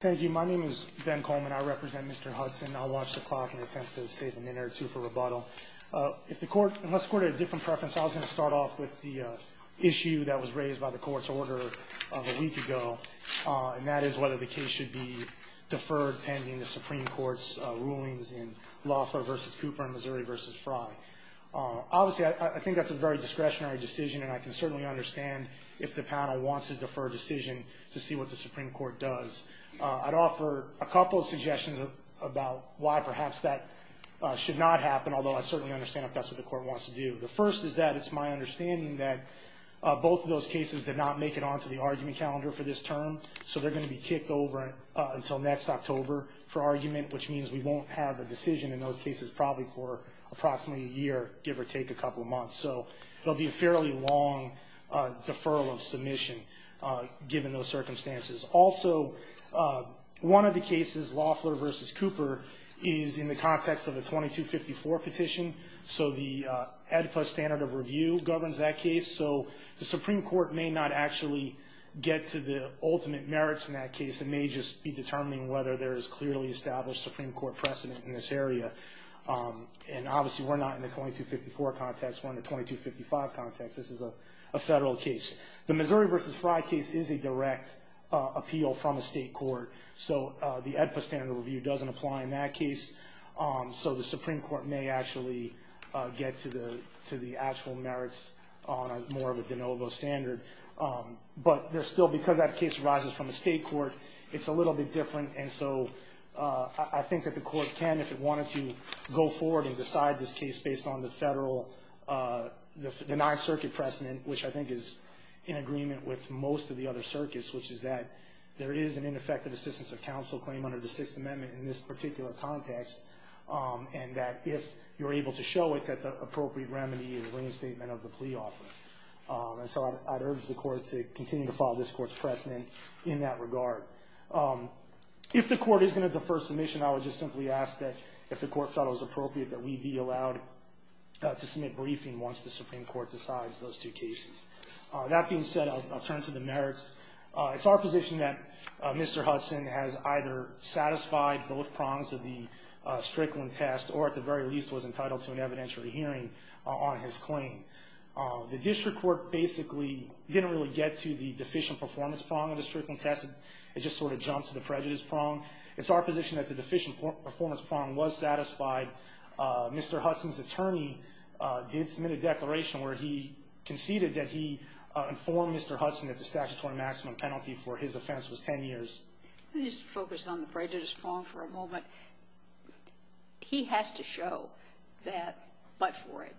Thank you. My name is Ben Coleman. I represent Mr. Hudson. I'll watch the clock and attempt to save a minute or two for rebuttal. If the court, unless the court had a different preference, I was going to start off with the issue that was raised by the court's order of a week ago, and that is whether the case should be deferred pending the Supreme Court's rulings in Lawford v. Cooper and Missouri v. Frye. Obviously, I think that's a very discretionary decision, and I can certainly understand if the panel wants to defer a decision to see what the Supreme Court does. I'd offer a couple of suggestions about why perhaps that should not happen, although I certainly understand if that's what the court wants to do. The first is that it's my understanding that both of those cases did not make it onto the argument calendar for this term, so they're going to be kicked over until next October for argument, which means we won't have a decision in those cases probably for approximately a year, give or take a couple of months. So they'll be a fairly long deferral of submission given those circumstances. Also, one of the cases, Lawford v. Cooper, is in the context of a 2254 petition, so the AEDPA standard of review governs that case, so the Supreme Court may not actually get to the ultimate merits in that case. It may just be determining whether there is clearly established Supreme Court precedent in this area, and obviously we're not in the 2254 context, we're in the 2255 context. This is a federal case. The Missouri v. Frye case is a direct appeal from a state court, so the AEDPA standard of review doesn't apply in that case, so the Supreme Court may actually get to the actual merits on more of a de novo standard. But still, because that case arises from a state court, it's a little bit go forward and decide this case based on the non-circuit precedent, which I think is in agreement with most of the other circuits, which is that there is an ineffective assistance of counsel claim under the Sixth Amendment in this particular context, and that if you're able to show it, that the appropriate remedy is reinstatement of the plea offer. And so I'd urge the Court to continue to follow this Court's precedent in that regard. If the Court is going to defer submission, I would just simply ask that, if the Court felt it was appropriate, that we be allowed to submit briefing once the Supreme Court decides those two cases. That being said, I'll turn to the merits. It's our position that Mr. Hudson has either satisfied both prongs of the Strickland test, or at the very least was entitled to an evidentiary hearing on his claim. The district court basically didn't really get to the deficient performance prong of the Strickland test. It just sort of jumped to the prejudice prong. It's our position that the deficient performance prong was satisfied. Mr. Hudson's attorney did submit a declaration where he conceded that he informed Mr. Hudson that the statutory maximum penalty for his offense was 10 years. Let me just focus on the prejudice prong for a moment. He has to show that, but for it,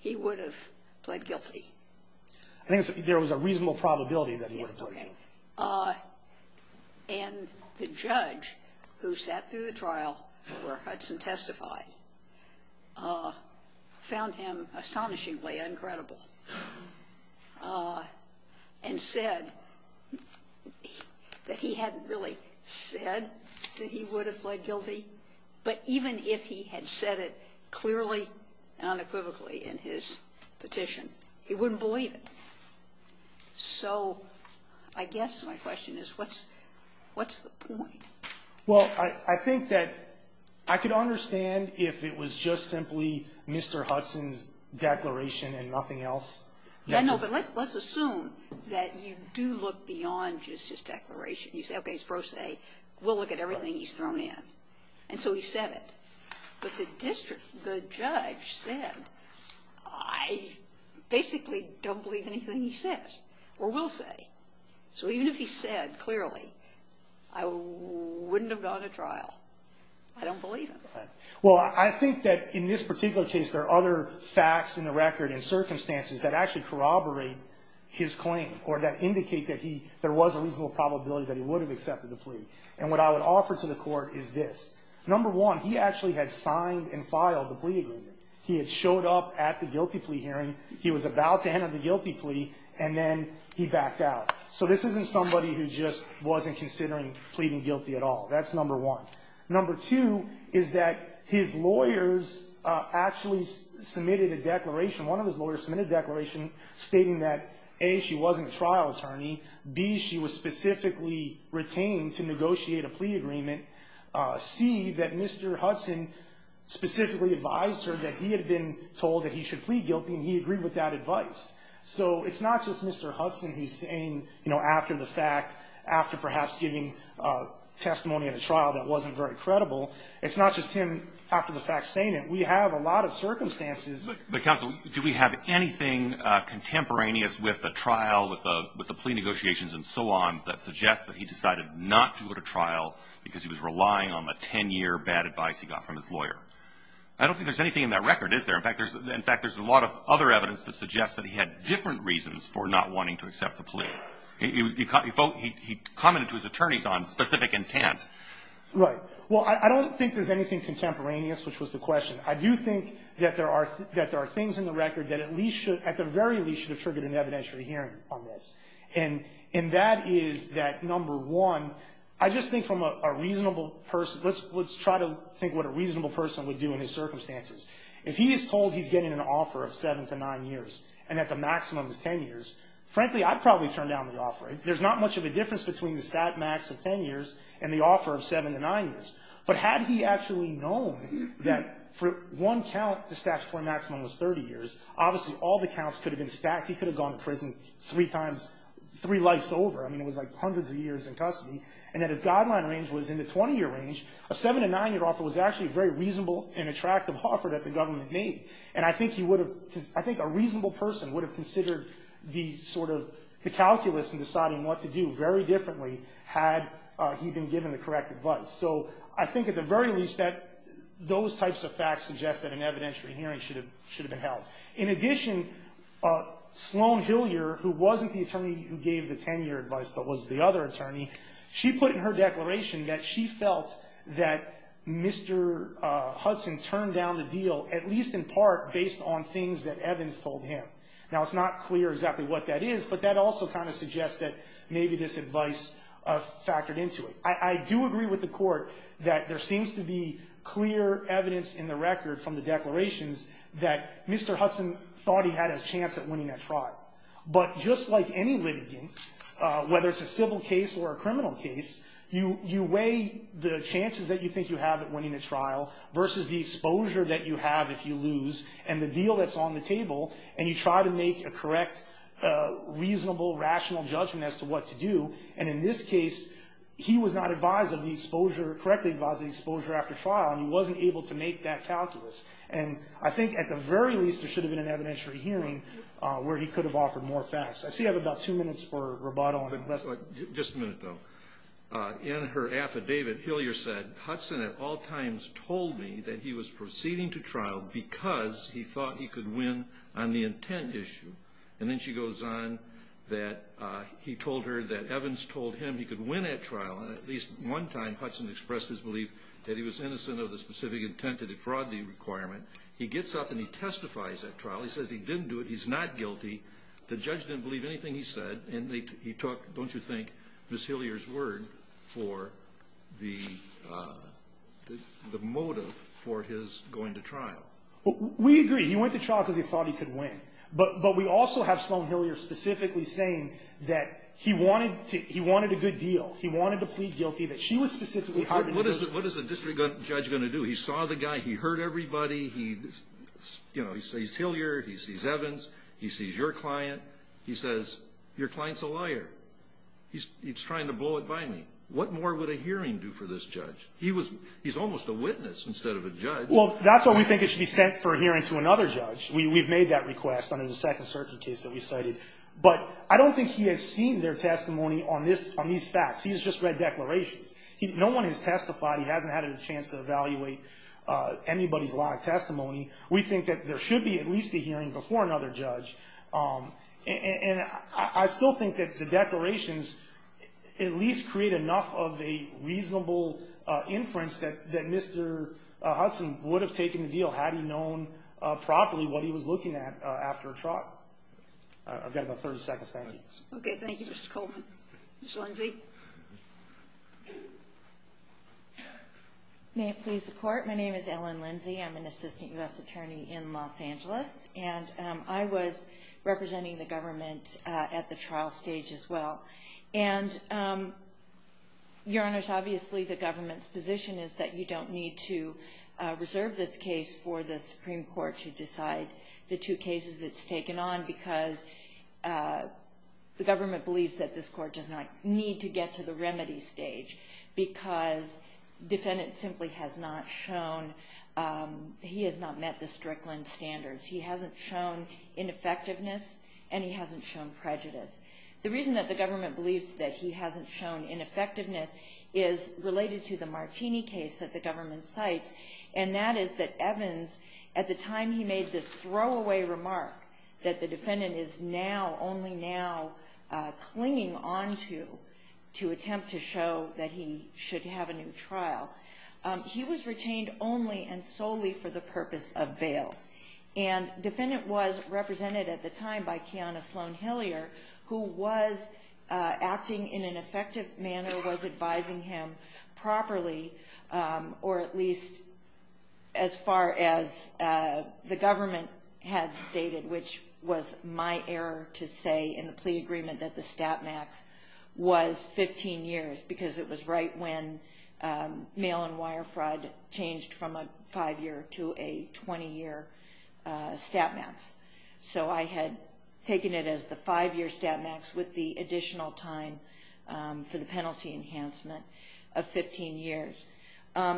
he would have pled guilty. I think there was a reasonable probability that he would have pled guilty. Okay. And the judge who sat through the trial where Hudson testified found him astonishingly uncredible and said that he hadn't really said that he would have pled guilty, but even if he had said it clearly and unequivocally in his petition, he wouldn't believe it. So I guess my question is, what's the point? Well, I think that I could understand if it was just simply Mr. Hudson's declaration and nothing else. Yeah, no, but let's assume that you do look beyond just his declaration. You say, okay, it's pro se. We'll look at everything he's thrown in. And so he said it. But the district, the judge said, I basically don't believe anything he says or will say. So even if he said clearly, I wouldn't have gone to trial. I don't believe him. Well, I think that in this particular case, there are other facts in the record and circumstances that actually corroborate his claim or that indicate that he, there was a reasonable probability that he would have accepted the plea. And what I would offer to the court is this. Number one, he actually had signed and filed the plea agreement. He had showed up at the guilty plea hearing. He was about to hand out the guilty plea. And then he backed out. So this isn't somebody who just wasn't considering pleading guilty at all. That's number one. Number two is that his lawyers actually submitted a declaration. One of his lawyers submitted a declaration stating that, A, she wasn't a C, that Mr. Hudson specifically advised her that he had been told that he should plead guilty. And he agreed with that advice. So it's not just Mr. Hudson who's saying, you know, after the fact, after perhaps giving testimony at a trial that wasn't very credible. It's not just him, after the fact, saying it. We have a lot of circumstances. But counsel, do we have anything contemporaneous with the trial, with the plea agreement that he was relying on the 10-year bad advice he got from his lawyer? I don't think there's anything in that record, is there? In fact, there's a lot of other evidence that suggests that he had different reasons for not wanting to accept the plea. He commented to his attorneys on specific intent. Right. Well, I don't think there's anything contemporaneous, which was the question. I do think that there are things in the record that at least should, at the very least, should have triggered an evidentiary hearing on this. And that is that, number one, I think a reasonable person – let's try to think what a reasonable person would do in his circumstances. If he is told he's getting an offer of 7 to 9 years, and that the maximum is 10 years, frankly, I'd probably turn down the offer. There's not much of a difference between the stat max of 10 years and the offer of 7 to 9 years. But had he actually known that for one count, the statutory maximum was 30 years, obviously, all the counts could have been stacked. He could have gone to prison three times, three lives over. I mean, it was like hundreds of years in custody. And that his guideline range was in the 20-year range. A 7 to 9-year offer was actually a very reasonable and attractive offer that the government made. And I think he would have – I think a reasonable person would have considered the sort of – the calculus in deciding what to do very differently had he been given the correct advice. So I think, at the very least, that those types of facts suggest that an evidentiary hearing should have been held. In addition, Sloan Hillier, who wasn't the attorney who gave the 10-year advice, but was the other attorney, she put in her declaration that she felt that Mr. Hudson turned down the deal at least in part based on things that Evans told him. Now, it's not clear exactly what that is, but that also kind of suggests that maybe this advice factored into it. I do agree with the Court that there seems to be clear evidence in the record from the declarations that Mr. Hudson thought he had a chance at winning that trial. But just like any litigant, whether it's a civil case or a criminal case, you weigh the chances that you think you have at winning a trial versus the exposure that you have if you lose and the deal that's on the table, and you try to make a correct, reasonable, rational judgment as to what to do. And in this case, he was not advised of the exposure – correctly advised of the exposure after trial, and he wasn't able to make that calculus. And I think, at the very least, there should have been an evidentiary hearing where he could have offered more facts. I see I have about two minutes for Roboto and then Lesley. Just a minute, though. In her affidavit, Hillier said, Hudson at all times told me that he was proceeding to trial because he thought he could win on the intent issue. And then she goes on that he told her that Evans told him he could win at trial. And at least one time, Hudson expressed his belief that he was innocent of the specific intent of the fraudulent requirement. He gets up and he testifies at trial. He says he didn't do it. He's not guilty. The judge didn't believe anything he said. And he talked, don't you think, Ms. Hillier's word for the motive for his going to trial. We agree. He went to trial because he thought he could win. But we also have Sloan Hillier specifically saying that he wanted to – he wanted a good deal. He wanted to plead guilty, that she was specifically hired to do it. What is the district judge going to do? He saw the guy. He heard everybody. He – you know, he sees Hillier. He sees Evans. He sees your client. He says, your client's a liar. He's trying to blow it by me. What more would a hearing do for this judge? He was – he's almost a witness instead of a judge. Well, that's why we think it should be sent for a hearing to another judge. We've made that request under the Second Circuit case that we cited. But I don't think he has seen their testimony on this – on these facts. He's just read declarations. He – no one has testified. He hasn't had a chance to evaluate anybody's live testimony. We think that there should be at least a hearing before another judge. And I still think that the declarations at least create enough of a reasonable inference that Mr. Hudson would have taken the deal had he known properly what he was looking at after a trial. I've got about 30 seconds. Thank you. Okay. Thank you, Mr. Coleman. Ms. Lindsey. May it please the Court. My name is Ellen Lindsey. I'm an assistant U.S. attorney in Los Angeles. And I was representing the government at the trial stage as well. And, Your Honors, obviously the government's position is that you don't need to reserve this case for the Supreme Court to decide the two cases it's taken on because the government believes that this court does not need to get to the remedy stage because defendant simply has not shown – he has not met the Strickland standards. He hasn't shown ineffectiveness and he hasn't shown prejudice. The reason that the government believes that he hasn't shown ineffectiveness is related to the Martini case that the government cites. And that is that Evans, at the time he made this throwaway remark that the defendant is now, only now, clinging onto to attempt to show that he should have a new trial, he was retained only and solely for the purpose of bail. And defendant was represented at the time by Kiana Sloan-Hillier who was acting in an advising him properly, or at least as far as the government had stated, which was my error to say in the plea agreement that the stat max was 15 years because it was right when mail and wire fraud changed from a five-year to a 20-year stat max. So I had taken it as the five-year stat max with the additional time for the penalty enhancement of 15 years.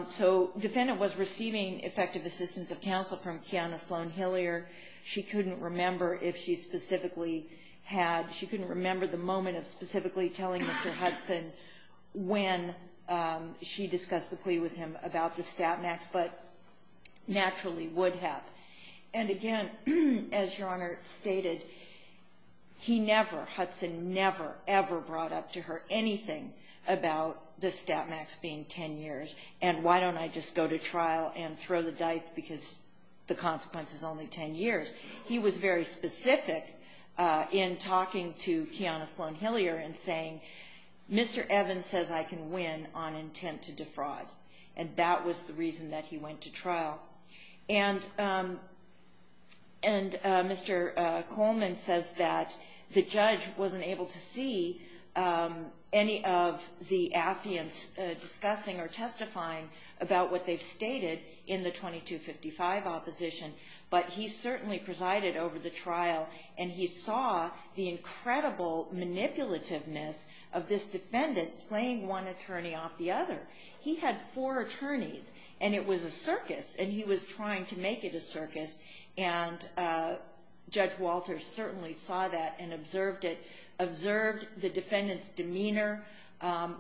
So defendant was receiving effective assistance of counsel from Kiana Sloan-Hillier. She couldn't remember if she specifically had – she couldn't remember the moment of specifically telling Mr. Hudson when she discussed the plea with him about the stat max, but naturally would have. And again, as Your Honor stated, he never, Hudson never, ever brought up to her anything about the stat max being 10 years, and why don't I just go to trial and throw the dice because the consequence is only 10 years. He was very specific in talking to Kiana Sloan-Hillier and saying, Mr. Evans says I can win on intent to defraud. And that was the judge wasn't able to see any of the affiants discussing or testifying about what they've stated in the 2255 opposition, but he certainly presided over the trial and he saw the incredible manipulativeness of this defendant playing one attorney off the other. He had four attorneys and it was a circus and he was trying to make it a circus and Judge Walters certainly saw that and observed the defendant's demeanor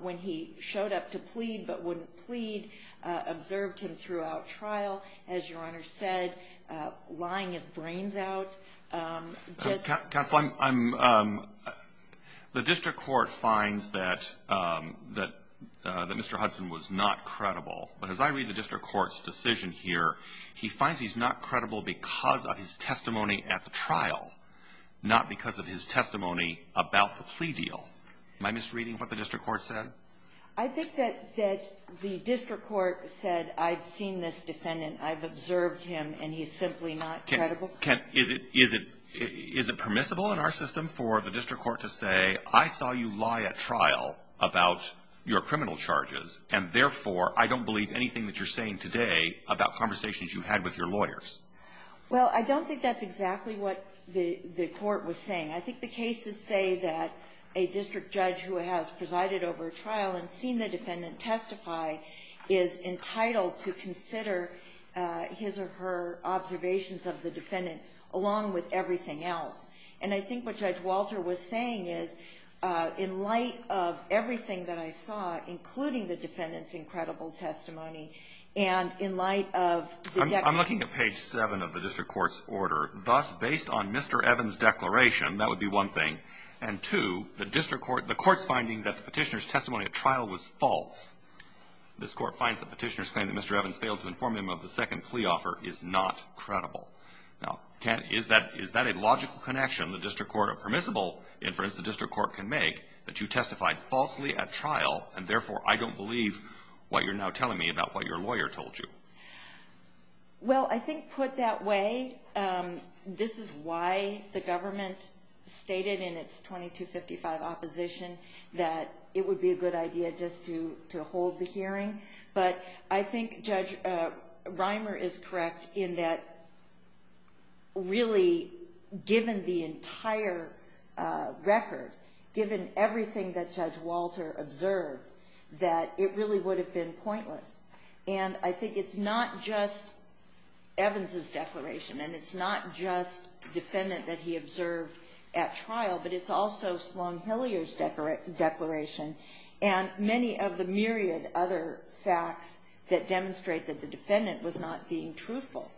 when he showed up to plead but wouldn't plead, observed him throughout trial, as Your Honor said, lying his brains out. Counsel, the District Court finds that Mr. Hudson was not credible, but as I read the District Court's decision here, he finds he's not credible because of his testimony at the trial, not because of his testimony about the plea deal. Am I misreading what the District Court said? I think that the District Court said I've seen this defendant, I've observed him and he's simply not credible. Is it permissible in our system for the District Court to say I saw you lie at trial about your criminal charges and therefore I don't believe anything that you're saying today about conversations you had with your lawyers? Well, I don't think that's exactly what the Court was saying. I think the cases say that a district judge who has presided over a trial and seen the defendant testify is entitled to consider his or her observations of the defendant along with everything else. And I think what Judge Walter was saying is in light of everything that I saw, including the defendant's incredible testimony, and in light of the debt of $1.87 of the District Court's order, thus based on Mr. Evans' declaration, that would be one thing. And two, the court's finding that the petitioner's testimony at trial was false. This court finds the petitioner's claim that Mr. Evans failed to inform him of the second plea offer is not credible. Now, is that a logical connection? The District Court, a permissible inference the District Court can make, that you testified falsely at trial and therefore I don't believe what you're now telling me about what your lawyer told you. Well, I think put that way, this is why the government stated in its 2255 opposition that it would be a good idea just to hold the hearing. But I think Judge Reimer is correct in that really given the entire record, given everything that Judge Walter observed, that it really would have been pointless. And I think it's not just Evans' declaration, and it's not just defendant that he observed at trial, but it's also Sloan-Hillier's declaration, and many of the myriad other facts that demonstrate that the defendant was not being truthful.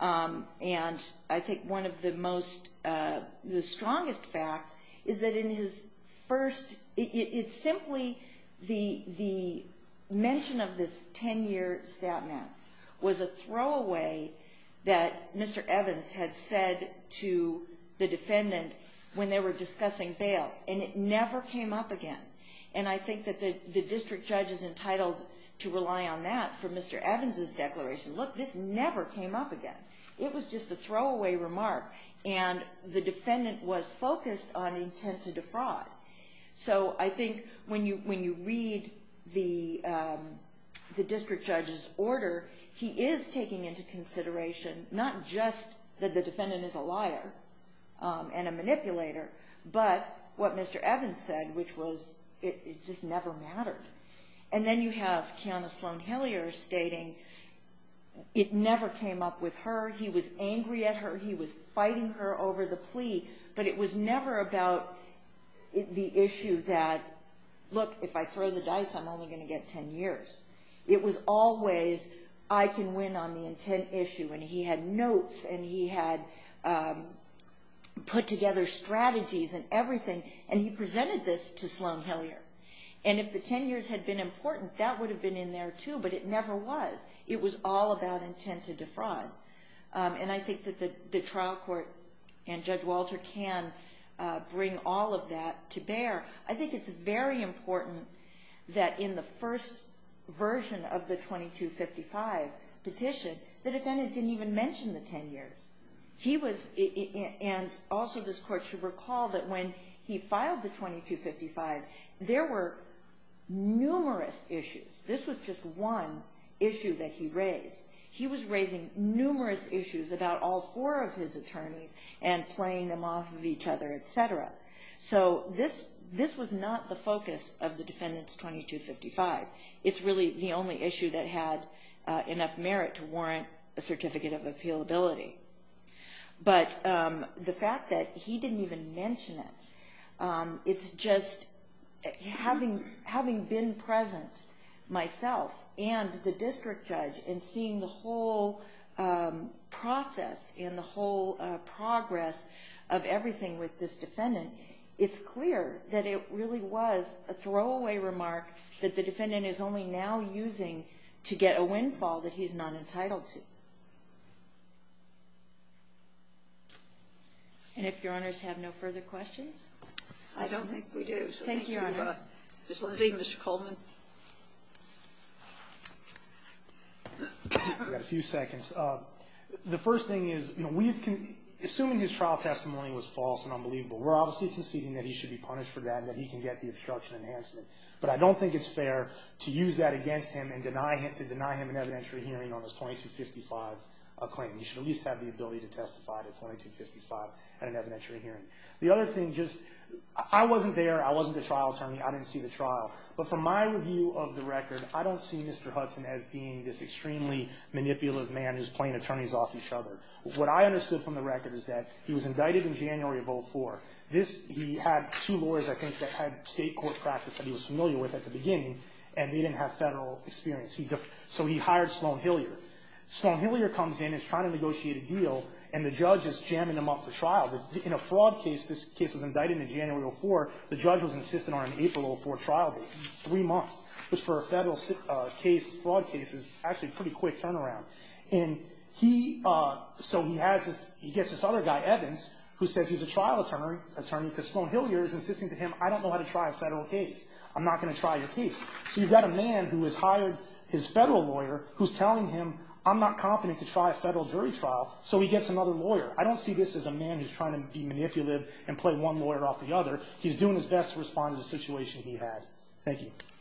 And I think one of the strongest facts is that in his first, it's simply the mention of this 10-year statments was a throwaway that Mr. Evans had said to the defendant when they were discussing bail. And it never came up again. And I think that the district judge is entitled to rely on that for Mr. Evans' declaration. Look, this never came up again. It was just a throwaway remark, and the defendant was focused on intent to defraud. So I think when you read the district judge's order, he is taking into consideration not just that the defendant is a liar and a manipulator, but what Mr. Evans said, which was it just never mattered. And then you have Kiana Sloan-Hillier stating it never came up with her. He was angry at her. He was fighting her over the plea. But it was never about the issue that, look, if I throw the dice, I'm only gonna get ten years. It was always, I can win on the intent issue. And he had notes, and he had put together strategies and everything. And he presented this to Sloan-Hillier. And if the ten years had been important, that would have been in there too, but it never was. It was all about intent to defraud. And I think that the trial court and Judge Walter can bring all of that to bear. I think it's very important that in the first version of the 2255 petition, the defendant didn't even mention the ten years. He was, and also this court should recall that when he filed the 2255, there were numerous issues. This was just one issue that he raised. He was raising numerous issues about all four of his attorneys and playing them off of each other, et cetera. So this was not the focus of the defendant's 2255. It's really the only issue that had enough merit to warrant a certificate of appealability. But the fact that he didn't even mention it, it's just, having been present myself and the district judge and seeing the whole process and the whole progress of everything with this defendant, it's clear that it really was a throwaway remark that the defendant is only now using to get a windfall that he's not entitled to. And if Your Honors have no further questions? I don't think we do. Thank you, Your Honors. Ms. Lizzie, Mr. Coleman. I've got a few seconds. The first thing is, assuming his trial testimony was false and unbelievable, we're obviously conceding that he should be punished for that and that he can get the obstruction enhancement. But I don't think it's fair to use that against him and to deny him an evidentiary hearing on his 2255 claim. He should at least have the ability to testify to 2255 at an evidentiary hearing. The other thing, just, I wasn't there, I wasn't the trial attorney, I didn't see the trial. But from my review of the record, I don't see Mr. Hudson as being this extremely manipulative man who's playing attorneys off each other. What I understood from the record is that he was indicted in January of 04. This, he had two lawyers, I think, that had state court practice that he was familiar with at the beginning, and they didn't have federal experience. So he hired Sloan Hilliard. Sloan Hilliard comes in, he's trying to negotiate a deal, and the judge is jamming him up for trial. In a fraud case, this case was indicted in January of 04, the judge was insistent on an April of 04 trial date, three months, which for a federal case, fraud case, is actually a pretty quick turnaround. And he, so he has this, he gets this other guy, Evans, who says he's a trial attorney, because Sloan Hilliard is insisting to him, I don't know how to try a federal case. I'm not going to try your case. So you've got a man who has hired his federal lawyer who's telling him, I'm not confident to try a federal jury trial, so he gets another lawyer. I don't see this as a man who's trying to be manipulative and play one lawyer off the other. He's doing his best to respond to the situation he had. Thank you.